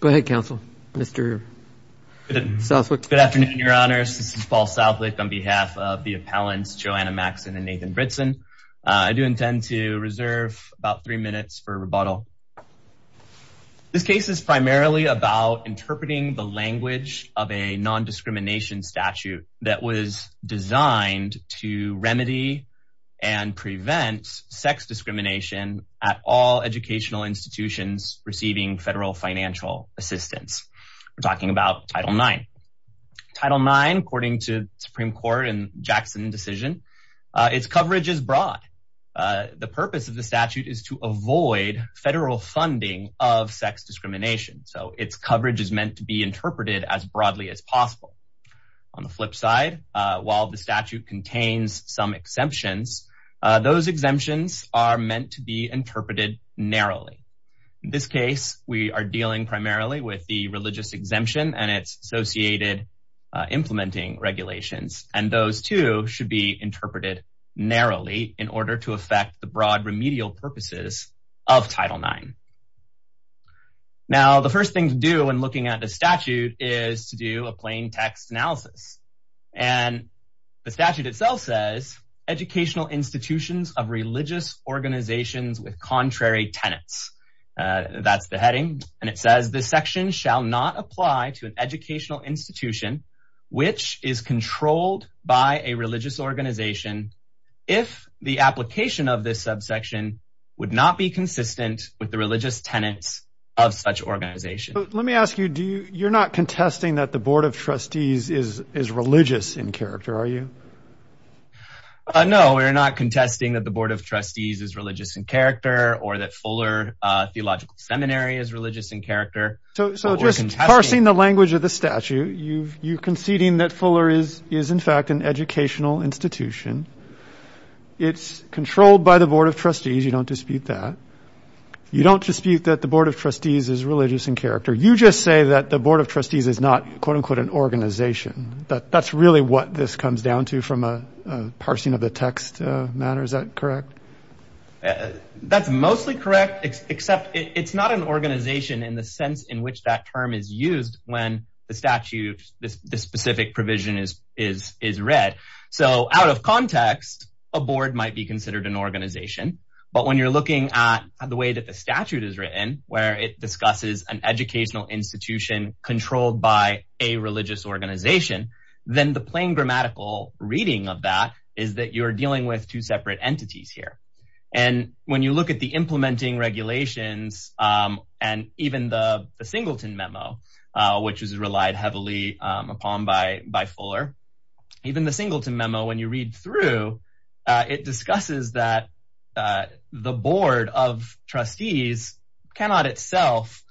Go ahead, counsel. Mr. Southwick. Good afternoon, your honors. This is Paul Southwick on behalf of the appellants, Joanna Maxson and Nathan Britson. I do intend to reserve about three minutes for rebuttal. This case is primarily about interpreting the language of a nondiscrimination statute that was designed to remedy and prevent sex discrimination at all educational institutions receiving federal financial assistance. We're talking about Title IX. Title IX, according to Supreme Court and Jackson decision, its coverage is broad. The purpose of the statute is to avoid federal funding of sex discrimination. So its coverage is meant to be interpreted as broadly as possible. On the flip side, while the statute contains some exemptions, those exemptions are meant to be interpreted narrowly. In this case, we are dealing primarily with the religious exemption and its associated implementing regulations. And those two should be interpreted narrowly in order to affect the broad remedial purposes of Title IX. Now, the first thing to do when looking at the statute is to do a plain text analysis. And the statute itself says educational institutions of religious organizations with contrary tenants. That's the heading. And it says this section shall not apply to an educational institution which is controlled by a religious organization. If the application of this subsection would not be consistent with the religious tenants of such organization. Let me ask you, do you you're not contesting that the Board of Trustees is is religious in character, are you? No, we're not contesting that the Board of Trustees is religious in character or that Fuller Theological Seminary is religious in character. So just parsing the language of the statute, you're conceding that Fuller is is in fact an educational institution. It's controlled by the Board of Trustees. You don't dispute that. You don't dispute that the Board of Trustees is religious in character. You just say that the Board of Trustees is not, quote unquote, an organization. That's really what this comes down to from a parsing of the text matter. Is that correct? That's mostly correct, except it's not an organization in the sense in which that term is used when the statute, the specific provision is read. So out of context, a board might be considered an organization. But when you're looking at the way that the statute is written, where it discusses an educational institution controlled by a religious organization, then the plain grammatical reading of that is that you're dealing with two separate entities here. And when you look at the implementing regulations and even the Singleton memo, which is relied heavily upon by by Fuller, even the Singleton memo, when you read through, it discusses that the Board of Trustees cannot itself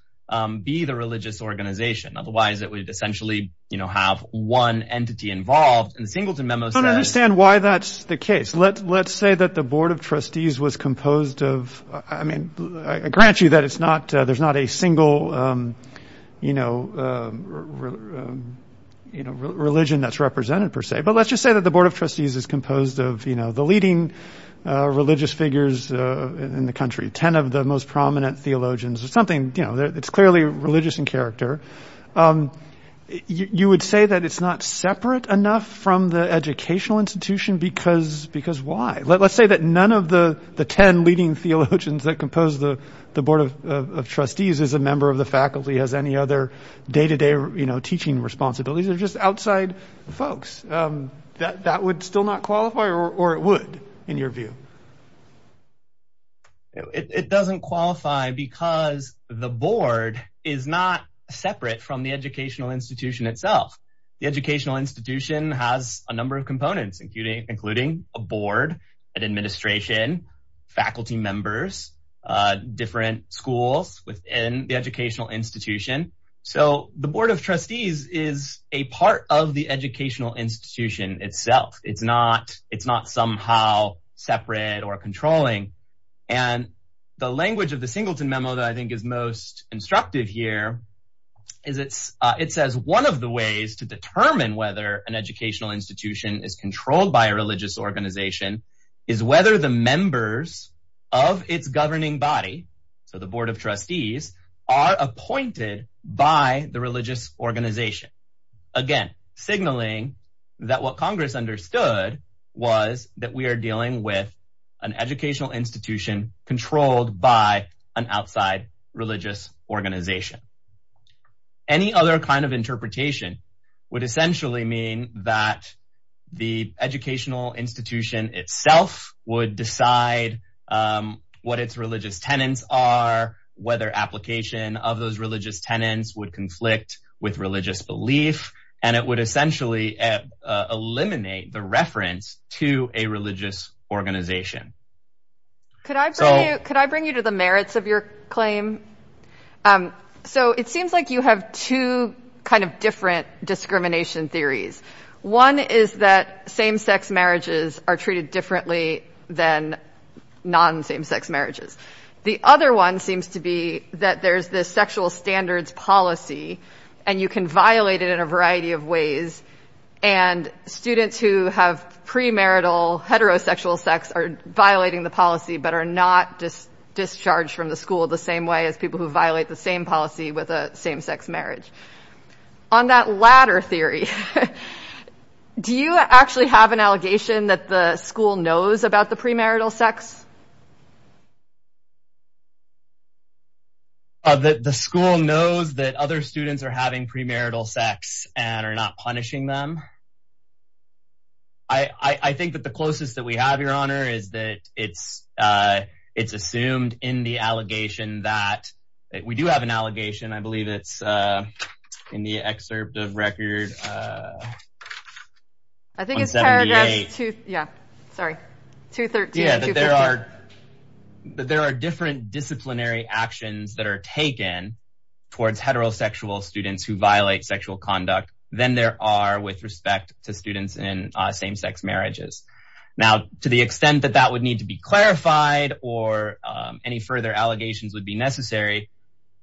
be the religious organization. Otherwise, it would essentially, you know, have one entity involved in the Singleton memo. I don't understand why that's the case. Let's say that the Board of Trustees was composed of. I mean, I grant you that it's not there's not a single, you know, you know, religion that's represented, per se. But let's just say that the Board of Trustees is composed of, you know, the leading religious figures in the country, 10 of the most prominent theologians or something. You know, it's clearly religious in character. You would say that it's not separate enough from the educational institution because because why? Let's say that none of the 10 leading theologians that compose the Board of Trustees is a member of the faculty, has any other day to day teaching responsibilities or just outside folks. That would still not qualify or it would, in your view. It doesn't qualify because the board is not separate from the educational institution itself. The educational institution has a number of components, including including a board, an administration, faculty members, different schools within the educational institution. So the Board of Trustees is a part of the educational institution itself. It's not it's not somehow separate or controlling. And the language of the Singleton memo that I think is most instructive here is it's it says one of the ways to determine whether an educational institution is controlled by a religious organization is whether the members of its governing body. So the Board of Trustees are appointed by the religious organization. Again, signaling that what Congress understood was that we are dealing with an educational institution controlled by an outside religious organization. Any other kind of interpretation would essentially mean that the educational institution itself would decide what its religious tenants are, whether application of those religious tenants would conflict with religious belief, and it would essentially eliminate the reference to a religious organization. Could I could I bring you to the merits of your claim? So it seems like you have two kind of different discrimination theories. One is that same sex marriages are treated differently than non same sex marriages. The other one seems to be that there's this sexual standards policy and you can violate it in a variety of ways. And students who have premarital heterosexual sex are violating the policy but are not just discharged from the school the same way as people who violate the same policy with a same sex marriage. On that ladder theory, do you actually have an allegation that the school knows about the premarital sex? The school knows that other students are having premarital sex and are not punishing them. I think that the closest that we have, Your Honor, is that it's it's assumed in the allegation that we do have an allegation. I believe it's in the excerpt of record. I think it's paragraph two. Yeah, sorry. There are there are different disciplinary actions that are taken towards heterosexual students who violate sexual conduct than there are with respect to students in same sex marriages. Now, to the extent that that would need to be clarified or any further allegations would be necessary.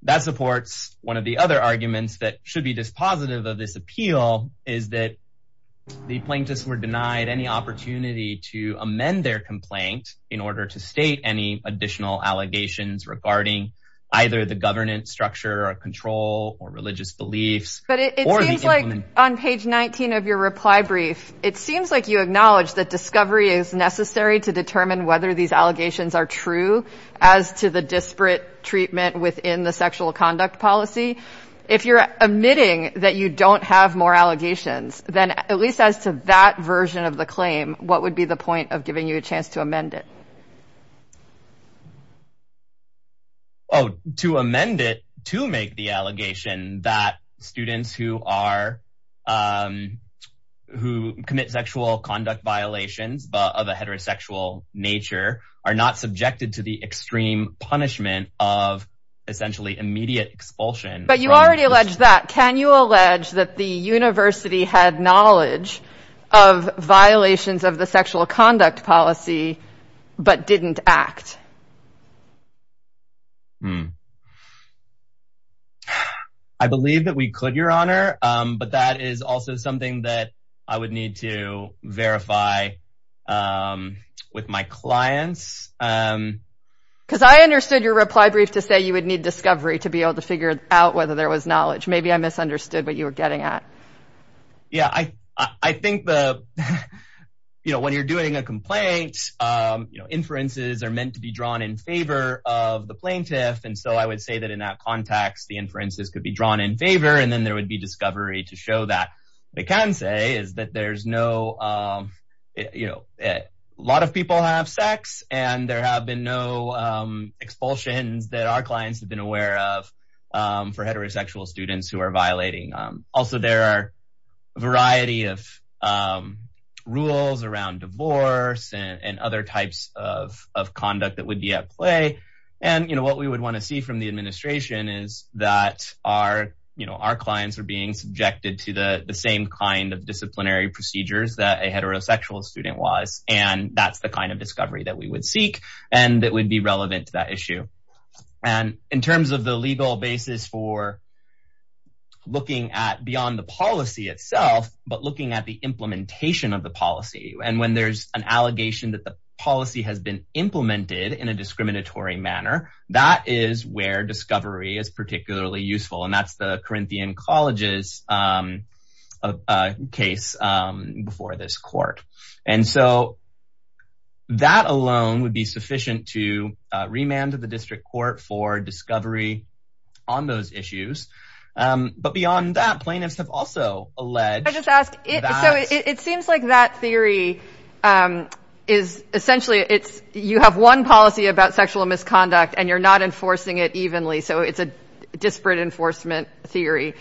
That supports one of the other arguments that should be dispositive of this appeal is that the plaintiffs were denied any opportunity to amend their complaint in order to state any additional allegations regarding either the governance structure or control or religious beliefs. But it seems like on page 19 of your reply brief, it seems like you acknowledge that discovery is necessary to determine whether these allegations are true as to the disparate treatment within the sexual conduct policy. If you're admitting that you don't have more allegations, then at least as to that version of the claim, what would be the point of giving you a chance to amend it? Oh, to amend it, to make the allegation that students who are who commit sexual conduct violations of a heterosexual nature are not subjected to the extreme punishment of essentially immediate expulsion. But you already alleged that. Can you allege that the university had knowledge of violations of the sexual conduct policy but didn't act? I believe that we could, Your Honor. But that is also something that I would need to verify with my clients. Because I understood your reply brief to say you would need discovery to be able to figure out whether there was knowledge. Maybe I misunderstood what you were getting at. Yeah, I think the, you know, when you're doing a complaint, you know, inferences are meant to be drawn in favor of the plaintiff. And so I would say that in that context, the inferences could be drawn in favor and then there would be discovery to show that. What I can say is that there's no, you know, a lot of people have sex and there have been no expulsions that our clients have been aware of for heterosexual students who are violating. Also, there are a variety of rules around divorce and other types of conduct that would be at play. And, you know, what we would want to see from the administration is that our, you know, our clients are being subjected to the same kind of disciplinary procedures that a heterosexual student was. And that's the kind of discovery that we would seek and that would be relevant to that issue. And in terms of the legal basis for looking at beyond the policy itself, but looking at the implementation of the policy. And when there's an allegation that the policy has been implemented in a discriminatory manner, that is where discovery is particularly useful. And that's the Corinthian College's case before this court. And so that alone would be sufficient to remand to the district court for discovery on those issues. But beyond that, plaintiffs have also alleged. So it seems like that theory is essentially it's you have one policy about sexual misconduct and you're not enforcing it evenly. So it's a disparate enforcement theory.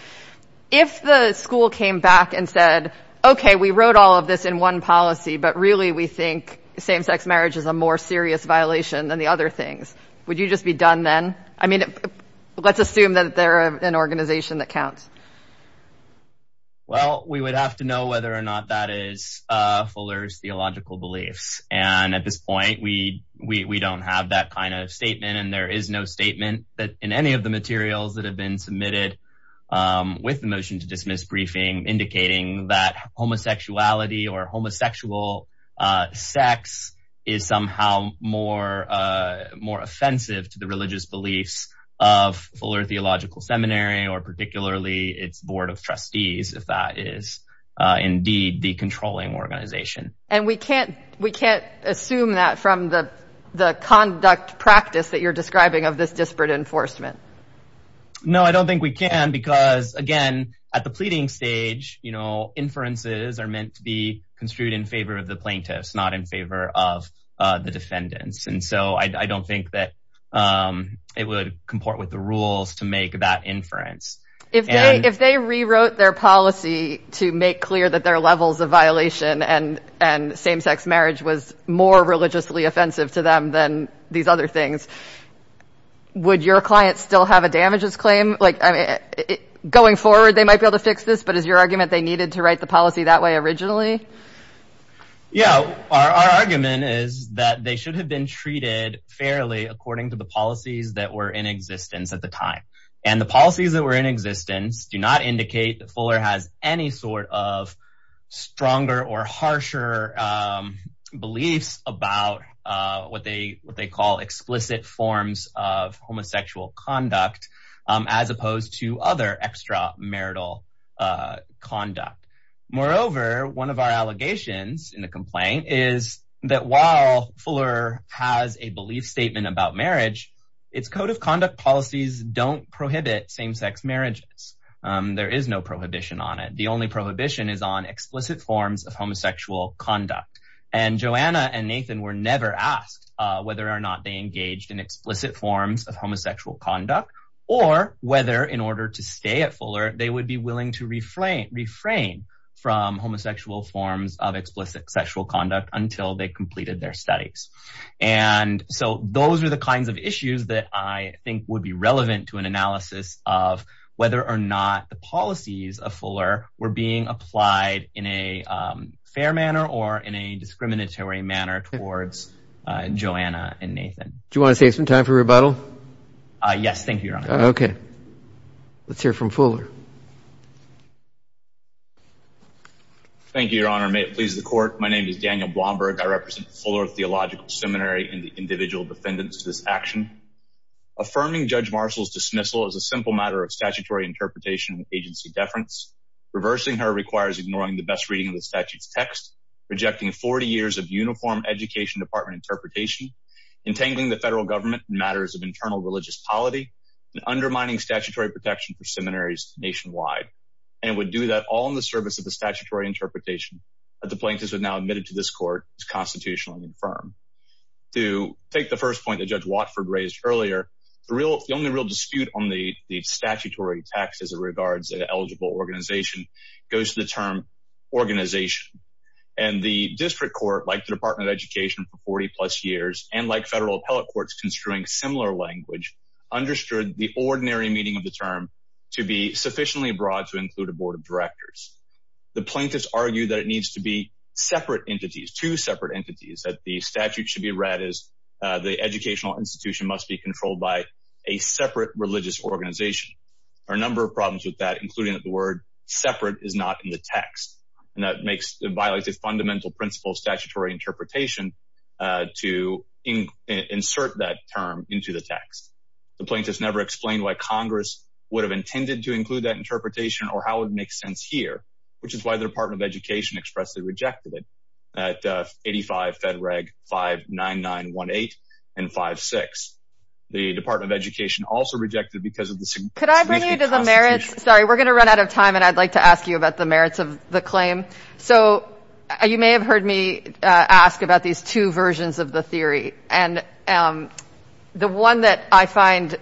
If the school came back and said, OK, we wrote all of this in one policy, but really we think same sex marriage is a more serious violation than the other things. Would you just be done then? I mean, let's assume that they're an organization that counts. Well, we would have to know whether or not that is Fuller's theological beliefs. And at this point, we we don't have that kind of statement. And there is no statement that in any of the materials that have been submitted with the motion to dismiss briefing, indicating that homosexuality or homosexual sex is somehow more more offensive to the religious beliefs of Fuller Theological Seminary or particularly its board of trustees. If that is indeed the controlling organization. And we can't we can't assume that from the the conduct practice that you're describing of this disparate enforcement. No, I don't think we can, because, again, at the pleading stage, you know, inferences are meant to be construed in favor of the plaintiffs, not in favor of the defendants. And so I don't think that it would comport with the rules to make that inference. If they if they rewrote their policy to make clear that their levels of violation and and same sex marriage was more religiously offensive to them than these other things, would your clients still have a damages claim like going forward? They might be able to fix this. But is your argument they needed to write the policy that way originally? Yeah, our argument is that they should have been treated fairly according to the policies that were in existence at the time. And the policies that were in existence do not indicate that Fuller has any sort of stronger or harsher beliefs about what they what they call explicit forms of homosexual conduct, as opposed to other extra marital conduct. Moreover, one of our allegations in the complaint is that while Fuller has a belief statement about marriage, its code of conduct policies don't prohibit same sex marriages. There is no prohibition on it. The only prohibition is on explicit forms of homosexual conduct. And Joanna and Nathan were never asked whether or not they engaged in explicit forms of homosexual conduct, or whether in order to stay at Fuller, they would be willing to refrain, refrain from homosexual forms of explicit sexual conduct until they completed their studies. And so those are the kinds of issues that I think would be relevant to an analysis of whether or not the policies of Fuller were being applied in a fair manner or in a discriminatory manner towards Joanna and Nathan. Do you want to save some time for rebuttal? Yes, thank you. Okay. Let's hear from Fuller. Thank you, Your Honor. May it please the court. My name is Daniel Blomberg. I represent Fuller Theological Seminary and the individual defendants of this action. Affirming Judge Marshall's dismissal is a simple matter of statutory interpretation and agency deference. Reversing her requires ignoring the best reading of the statute's text, rejecting 40 years of uniform education department interpretation, entangling the federal government in matters of internal religious polity, and undermining statutory protection for seminaries nationwide. And it would do that all in the service of the statutory interpretation that the plaintiffs have now admitted to this court as constitutionally infirm. To take the first point that Judge Watford raised earlier, the only real dispute on the statutory text as it regards an eligible organization goes to the term organization. And the district court, like the Department of Education for 40 plus years, and like federal appellate courts construing similar language, understood the ordinary meaning of the term to be sufficiently broad to include a board of directors. The plaintiffs argue that it needs to be separate entities, two separate entities, that the statute should be read as the educational institution must be controlled by a separate religious organization. There are a number of problems with that, including that the word separate is not in the text. And that violates a fundamental principle of statutory interpretation to insert that term into the text. The plaintiffs never explained why Congress would have intended to include that interpretation or how it would make sense here, which is why the Department of Education expressly rejected it at 85 Fed Reg 59918 and 56. The Department of Education also rejected it because of the significant constitution. Could I bring you to the merits? Sorry, we're going to run out of time and I'd like to ask you about the merits of the claim. So you may have heard me ask about these two versions of the theory. And the one that I find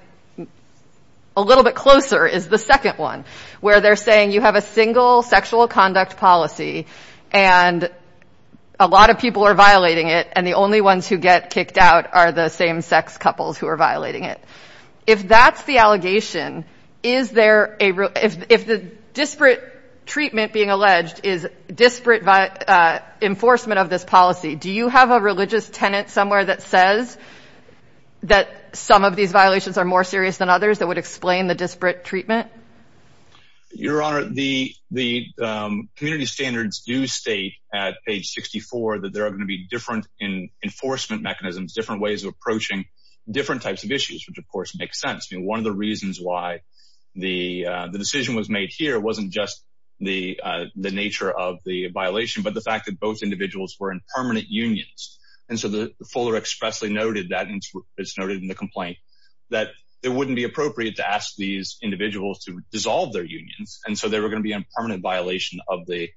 a little bit closer is the second one, where they're saying you have a single sexual conduct policy. And a lot of people are violating it. And the only ones who get kicked out are the same sex couples who are violating it. If that's the allegation, is there a if the disparate treatment being alleged is disparate by enforcement of this policy? Do you have a religious tenant somewhere that says that some of these violations are more serious than others that would explain the disparate treatment? Your Honor, the the community standards do state at age 64 that there are going to be different in enforcement mechanisms, different ways of approaching different types of issues, which, of course, makes sense. I mean, one of the reasons why the decision was made here wasn't just the the nature of the violation, but the fact that both individuals were in permanent unions. And so the fuller expressly noted that it's noted in the complaint that it wouldn't be appropriate to ask these individuals to dissolve their unions. And so they were going to be in permanent violation of the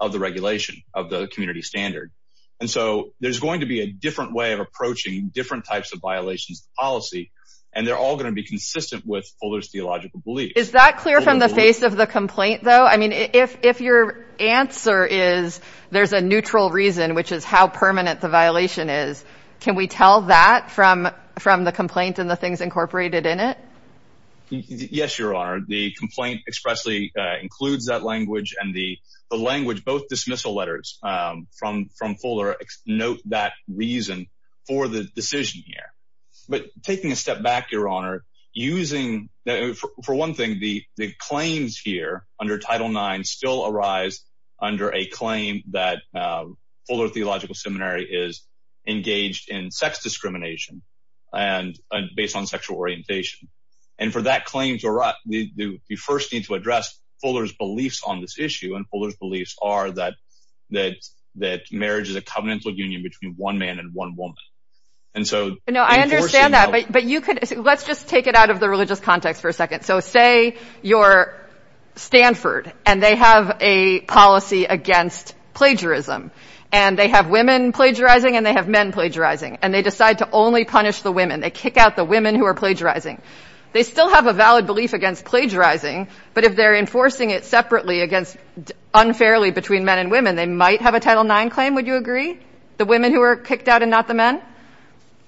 of the regulation of the community standard. And so there's going to be a different way of approaching different types of violations of policy. And they're all going to be consistent with Fuller's theological belief. Is that clear from the face of the complaint, though? I mean, if if your answer is there's a neutral reason, which is how permanent the violation is, can we tell that from from the complaint and the things incorporated in it? Yes, Your Honor. The complaint expressly includes that language and the language, both dismissal letters from from Fuller. Note that reason for the decision here. But taking a step back, Your Honor, using for one thing, the claims here under Title nine still arise under a claim that Fuller Theological Seminary is engaged in sex discrimination and based on sexual orientation. And for that claim to arise, we first need to address Fuller's beliefs on this issue. And Fuller's beliefs are that that that marriage is a covenantal union between one man and one woman. And so, you know, I understand that. But you could let's just take it out of the religious context for a second. So say you're Stanford and they have a policy against plagiarism and they have women plagiarizing and they have men plagiarizing. And they decide to only punish the women. They kick out the women who are plagiarizing. They still have a valid belief against plagiarizing. But if they're enforcing it separately against unfairly between men and women, they might have a Title nine claim. Would you agree the women who were kicked out and not the men?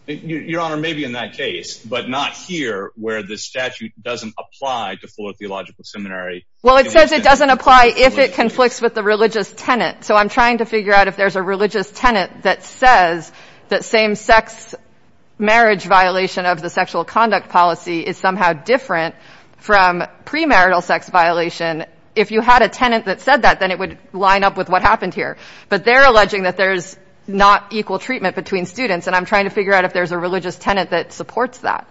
Your Honor, maybe in that case, but not here where the statute doesn't apply to Fuller Theological Seminary. Well, it says it doesn't apply if it conflicts with the religious tenant. So I'm trying to figure out if there's a religious tenant that says that same sex marriage violation of the sexual conduct policy is somehow different from premarital sex violation. If you had a tenant that said that, then it would line up with what happened here. But they're alleging that there's not equal treatment between students. And I'm trying to figure out if there's a religious tenant that supports that.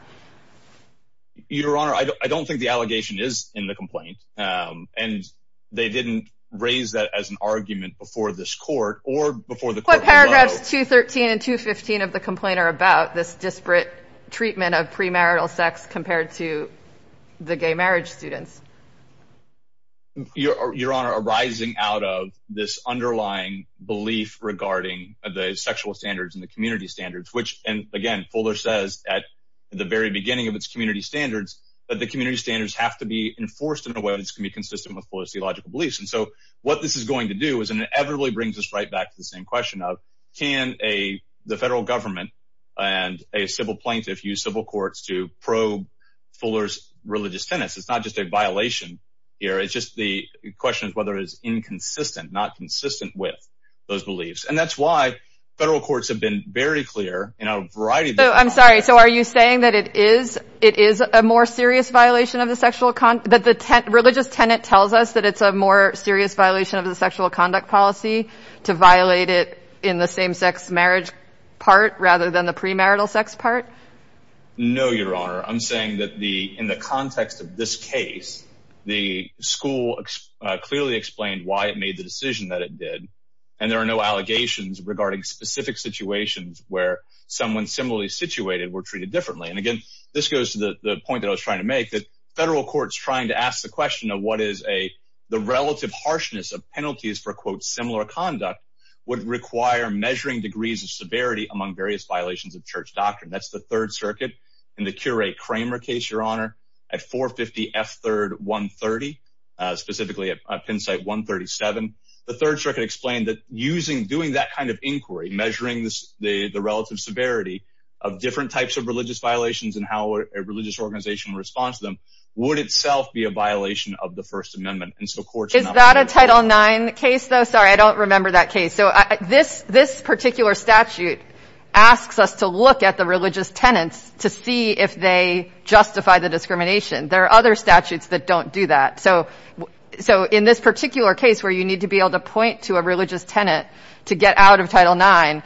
Your Honor, I don't think the allegation is in the complaint, and they didn't raise that as an argument before this court or before the court. What paragraphs 213 and 215 of the complaint are about this disparate treatment of premarital sex compared to the gay marriage students? Your Honor, arising out of this underlying belief regarding the sexual standards and the community standards, which and again, Fuller says at the very beginning of its community standards, that the community standards have to be enforced in a way that can be consistent with policy logical beliefs. And so what this is going to do is inevitably brings us right back to the same question of, can the federal government and a civil plaintiff use civil courts to probe Fuller's religious tenants? It's not just a violation here. It's just the question of whether it's inconsistent, not consistent with those beliefs. And that's why federal courts have been very clear in a variety of different ways. All right. So are you saying that it is it is a more serious violation of the sexual that the religious tenant tells us that it's a more serious violation of the sexual conduct policy to violate it in the same sex marriage part rather than the premarital sex part? No, Your Honor. I'm saying that the in the context of this case, the school clearly explained why it made the decision that it did. And there are no allegations regarding specific situations where someone similarly situated were treated differently. And again, this goes to the point that I was trying to make that federal courts trying to ask the question of what is a the relative harshness of penalties for, quote, similar conduct would require measuring degrees of severity among various violations of church doctrine. That's the Third Circuit and the curate Kramer case, Your Honor, at 450 F. Third, 130, specifically at Penn State, 137. The Third Circuit explained that using doing that kind of inquiry, measuring the relative severity of different types of religious violations and how a religious organization responds to them would itself be a violation of the First Amendment. Is that a Title nine case, though? Sorry, I don't remember that case. So this this particular statute asks us to look at the religious tenants to see if they justify the discrimination. There are other statutes that don't do that. So so in this particular case where you need to be able to point to a religious tenant to get out of Title nine,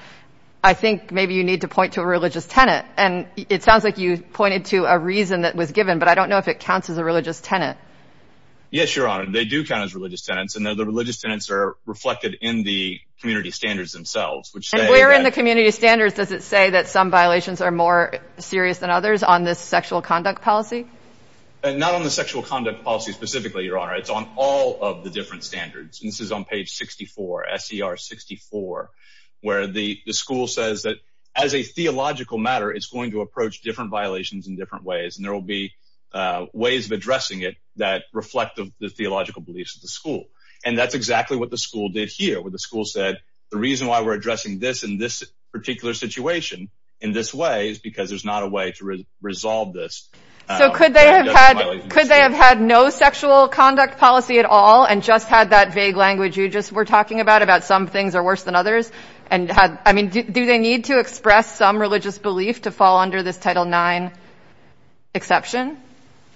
I think maybe you need to point to a religious tenant. And it sounds like you pointed to a reason that was given. But I don't know if it counts as a religious tenant. Yes, Your Honor, they do count as religious tenants and the religious tenants are reflected in the community standards themselves, which we're in the community standards. Does it say that some violations are more serious than others on this sexual conduct policy? Not on the sexual conduct policy specifically, Your Honor. It's on all of the different standards. And this is on page 64, SCR 64, where the school says that as a theological matter, it's going to approach different violations in different ways. And there will be ways of addressing it that reflect the theological beliefs of the school. And that's exactly what the school did here, where the school said the reason why we're addressing this in this particular situation in this way is because there's not a way to resolve this. So could they have had could they have had no sexual conduct policy at all and just had that vague language you just were talking about about some things are worse than others? And I mean, do they need to express some religious belief to fall under this Title nine exception?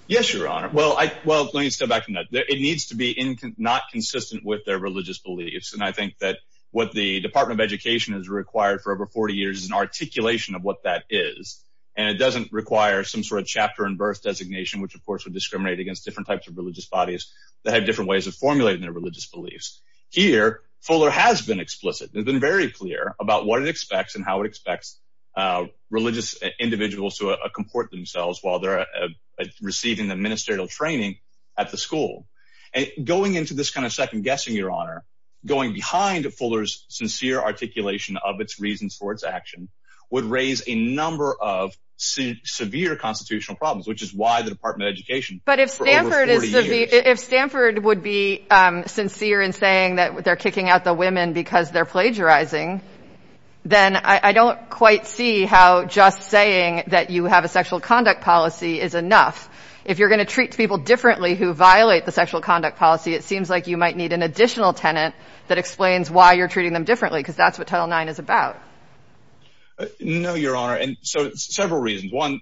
Yes, Your Honor. Well, well, let me step back from that. It needs to be not consistent with their religious beliefs. And I think that what the Department of Education has required for over 40 years is an articulation of what that is. And it doesn't require some sort of chapter and birth designation, which, of course, would discriminate against different types of religious bodies that have different ways of formulating their religious beliefs. Here, Fuller has been explicit, has been very clear about what it expects and how it expects religious individuals to comport themselves while they're receiving the ministerial training at the school. And going into this kind of second guessing, Your Honor, going behind Fuller's sincere articulation of its reasons for its action would raise a number of severe constitutional problems, which is why the Department of Education. But if Stanford would be sincere in saying that they're kicking out the women because they're plagiarizing, then I don't quite see how just saying that you have a sexual conduct policy is enough. If you're going to treat people differently who violate the sexual conduct policy, it seems like you might need an additional tenant that explains why you're treating them differently, because that's what Title nine is about. No, Your Honor. And so several reasons. One,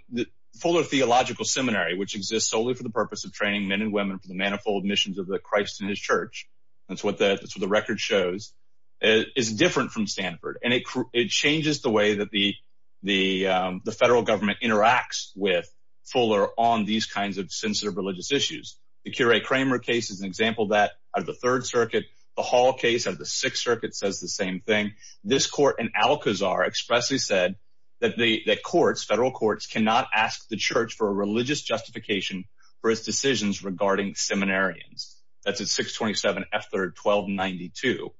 Fuller Theological Seminary, which exists solely for the purpose of training men and women for the manifold missions of the Christ and his church. That's what the record shows is different from Stanford, and it changes the way that the federal government interacts with Fuller on these kinds of sensitive religious issues. The Kure Kramer case is an example that of the Third Circuit. The Hall case of the Sixth Circuit says the same thing. This court in Alcazar expressly said that the courts, federal courts, cannot ask the church for a religious justification for its decisions regarding seminarians. That's a six twenty seven after twelve ninety two.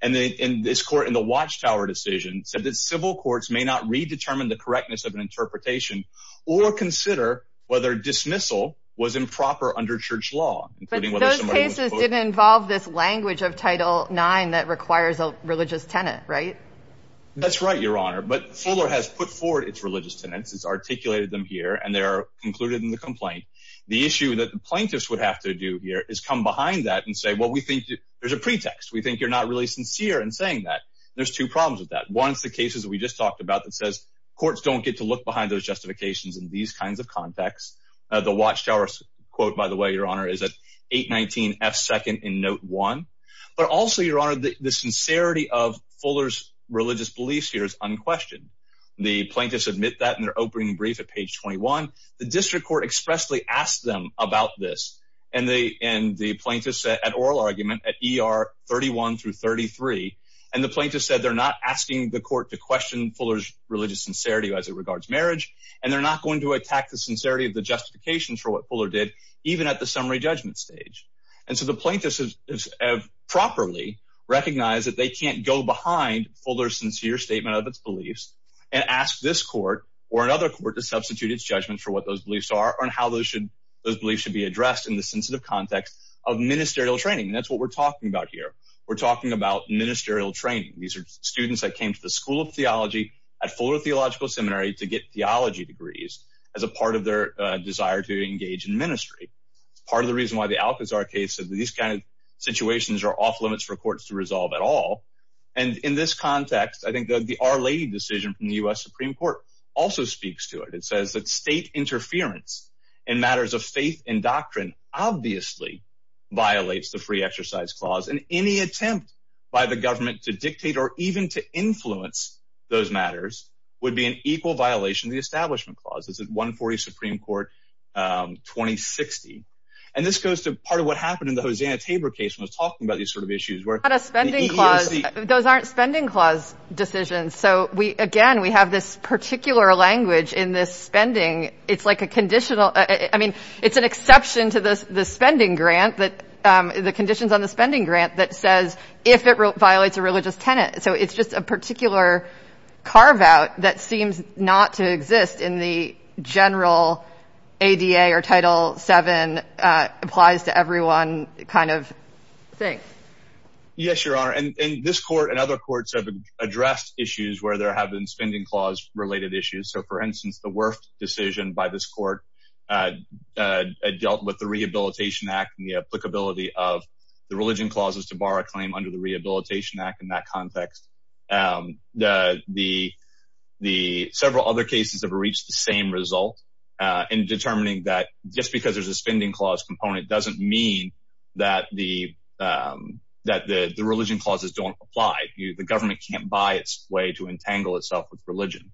And then in this court in the Watchtower decision said that civil courts may not redetermine the correctness of an interpretation or consider whether dismissal was improper under church law. Those cases didn't involve this language of Title nine that requires a religious tenant, right? That's right, Your Honor. But Fuller has put forward its religious tenants, has articulated them here, and they are included in the complaint. The issue that the plaintiffs would have to do here is come behind that and say, well, we think there's a pretext. We think you're not really sincere in saying that there's two problems with that. Once the cases we just talked about that says courts don't get to look behind those justifications in these kinds of contexts. The Watchtower quote, by the way, Your Honor, is that eight nineteen F second in note one. But also, Your Honor, the sincerity of Fuller's religious beliefs here is unquestioned. The plaintiffs admit that in their opening brief at page twenty one. The district court expressly asked them about this and they and the plaintiffs at oral argument at ER thirty one through thirty three. And the plaintiffs said they're not asking the court to question Fuller's religious sincerity as it regards marriage. And they're not going to attack the sincerity of the justifications for what Fuller did, even at the summary judgment stage. And so the plaintiffs have properly recognized that they can't go behind Fuller's sincere statement of its beliefs and ask this court or another court to substitute its judgment for what those beliefs are and how those should those beliefs should be addressed in the sensitive context of ministerial training. That's what we're talking about here. We're talking about ministerial training. These are students that came to the School of Theology at Fuller Theological Seminary to get theology degrees as a part of their desire to engage in ministry. Part of the reason why the Alcazar case of these kind of situations are off limits for courts to resolve at all. And in this context, I think the our lady decision from the US Supreme Court also speaks to it. It says that state interference in matters of faith and doctrine obviously violates the free exercise clause. And any attempt by the government to dictate or even to influence those matters would be an equal violation. The Establishment Clause is at 140 Supreme Court twenty sixty. And this goes to part of what happened in the Hosanna Tabor case was talking about these sort of issues were not a spending clause. Those aren't spending clause decisions. So we again, we have this particular language in this spending. It's like a conditional. I mean, it's an exception to this. The spending grant that the conditions on the spending grant that says if it violates a religious tenant. So it's just a particular carve out that seems not to exist in the general ADA or Title seven applies to everyone kind of thing. Yes, your honor. And this court and other courts have addressed issues where there have been spending clause related issues. So, for instance, the worst decision by this court dealt with the Rehabilitation Act and the applicability of the religion clauses to borrow a claim under the Rehabilitation Act. In that context, the the the several other cases have reached the same result in determining that just because there's a spending clause component doesn't mean that the that the religion clauses don't apply. The government can't buy its way to entangle itself with religion.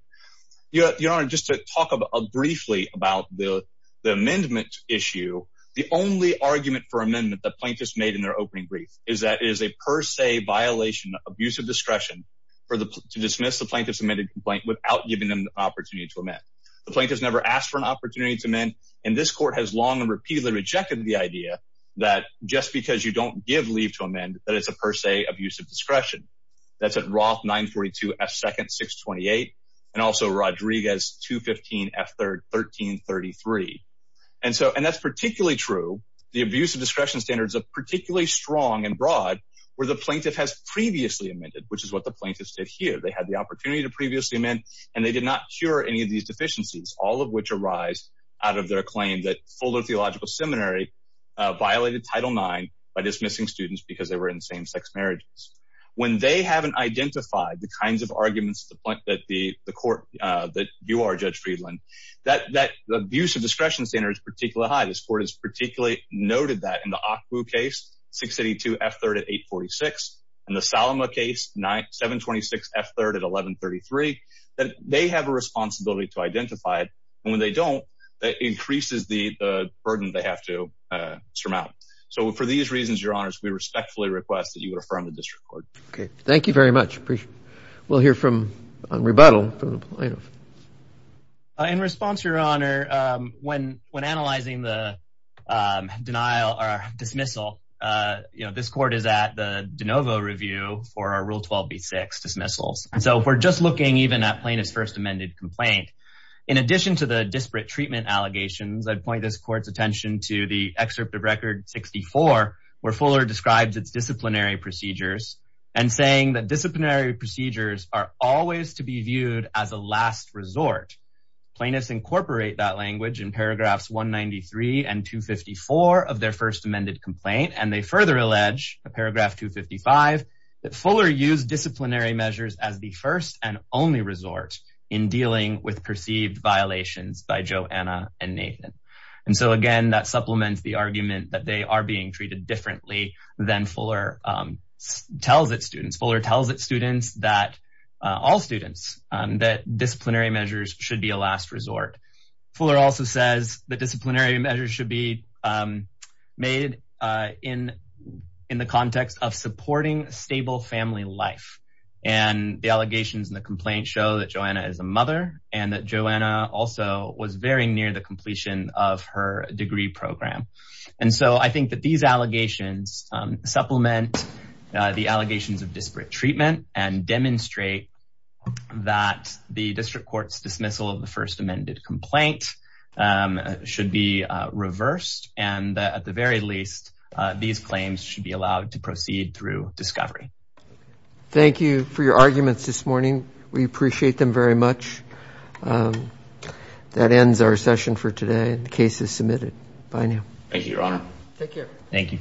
Your honor, just to talk briefly about the amendment issue. The only argument for amendment that plaintiffs made in their opening brief is that is a per se violation of use of discretion for the to dismiss the plaintiff's amended complaint without giving them the opportunity to amend. The plaintiff's never asked for an opportunity to amend. And this court has long repeatedly rejected the idea that just because you don't give leave to amend that it's a per se abuse of discretion. That's at Roth 942 second 628 and also Rodriguez 215 after 1333. And so and that's particularly true. The abuse of discretion standards are particularly strong and broad where the plaintiff has previously amended, which is what the plaintiffs did here. They had the opportunity to previously amend and they did not cure any of these deficiencies, all of which arise out of their claim that Fuller Theological Seminary violated Title 9 by dismissing students because they were in same sex marriages. When they haven't identified the kinds of arguments that the court that you are, Judge Friedland, that that abuse of discretion standards particularly high. This court is particularly noted that in the case 682 F3 at 846 and the Salama case 9 726 F3 at 1133 that they have a responsibility to identify it when they don't. That increases the burden they have to surmount. So for these reasons, your honors, we respectfully request that you would affirm the district court. OK, thank you very much. We'll hear from rebuttal. In response, your honor, when when analyzing the denial or dismissal, this court is at the DeNovo review for our rule 12 B6 dismissals. And so we're just looking even at plaintiff's first amended complaint. In addition to the disparate treatment allegations, I'd point this court's attention to the excerpt of record 64, where Fuller describes its disciplinary procedures and saying that disciplinary procedures are always to be viewed as a last resort. Plaintiffs incorporate that language in paragraphs 193 and 254 of their first amended complaint. And they further allege a paragraph 255 that Fuller used disciplinary measures as the first and only resort in dealing with perceived violations by Joanna and Nathan. And so, again, that supplements the argument that they are being treated differently than Fuller tells its students. Fuller tells its students that all students that disciplinary measures should be a last resort. Fuller also says that disciplinary measures should be made in in the context of supporting stable family life. And the allegations in the complaint show that Joanna is a mother and that Joanna also was very near the completion of her degree program. And so I think that these allegations supplement the allegations of disparate treatment and demonstrate that the district court's dismissal of the first amended complaint should be reversed. And at the very least, these claims should be allowed to proceed through discovery. Thank you for your arguments this morning. We appreciate them very much. That ends our session for today. The case is submitted. Bye now. Thank you, Your Honor. Take care. Thank you. All rise.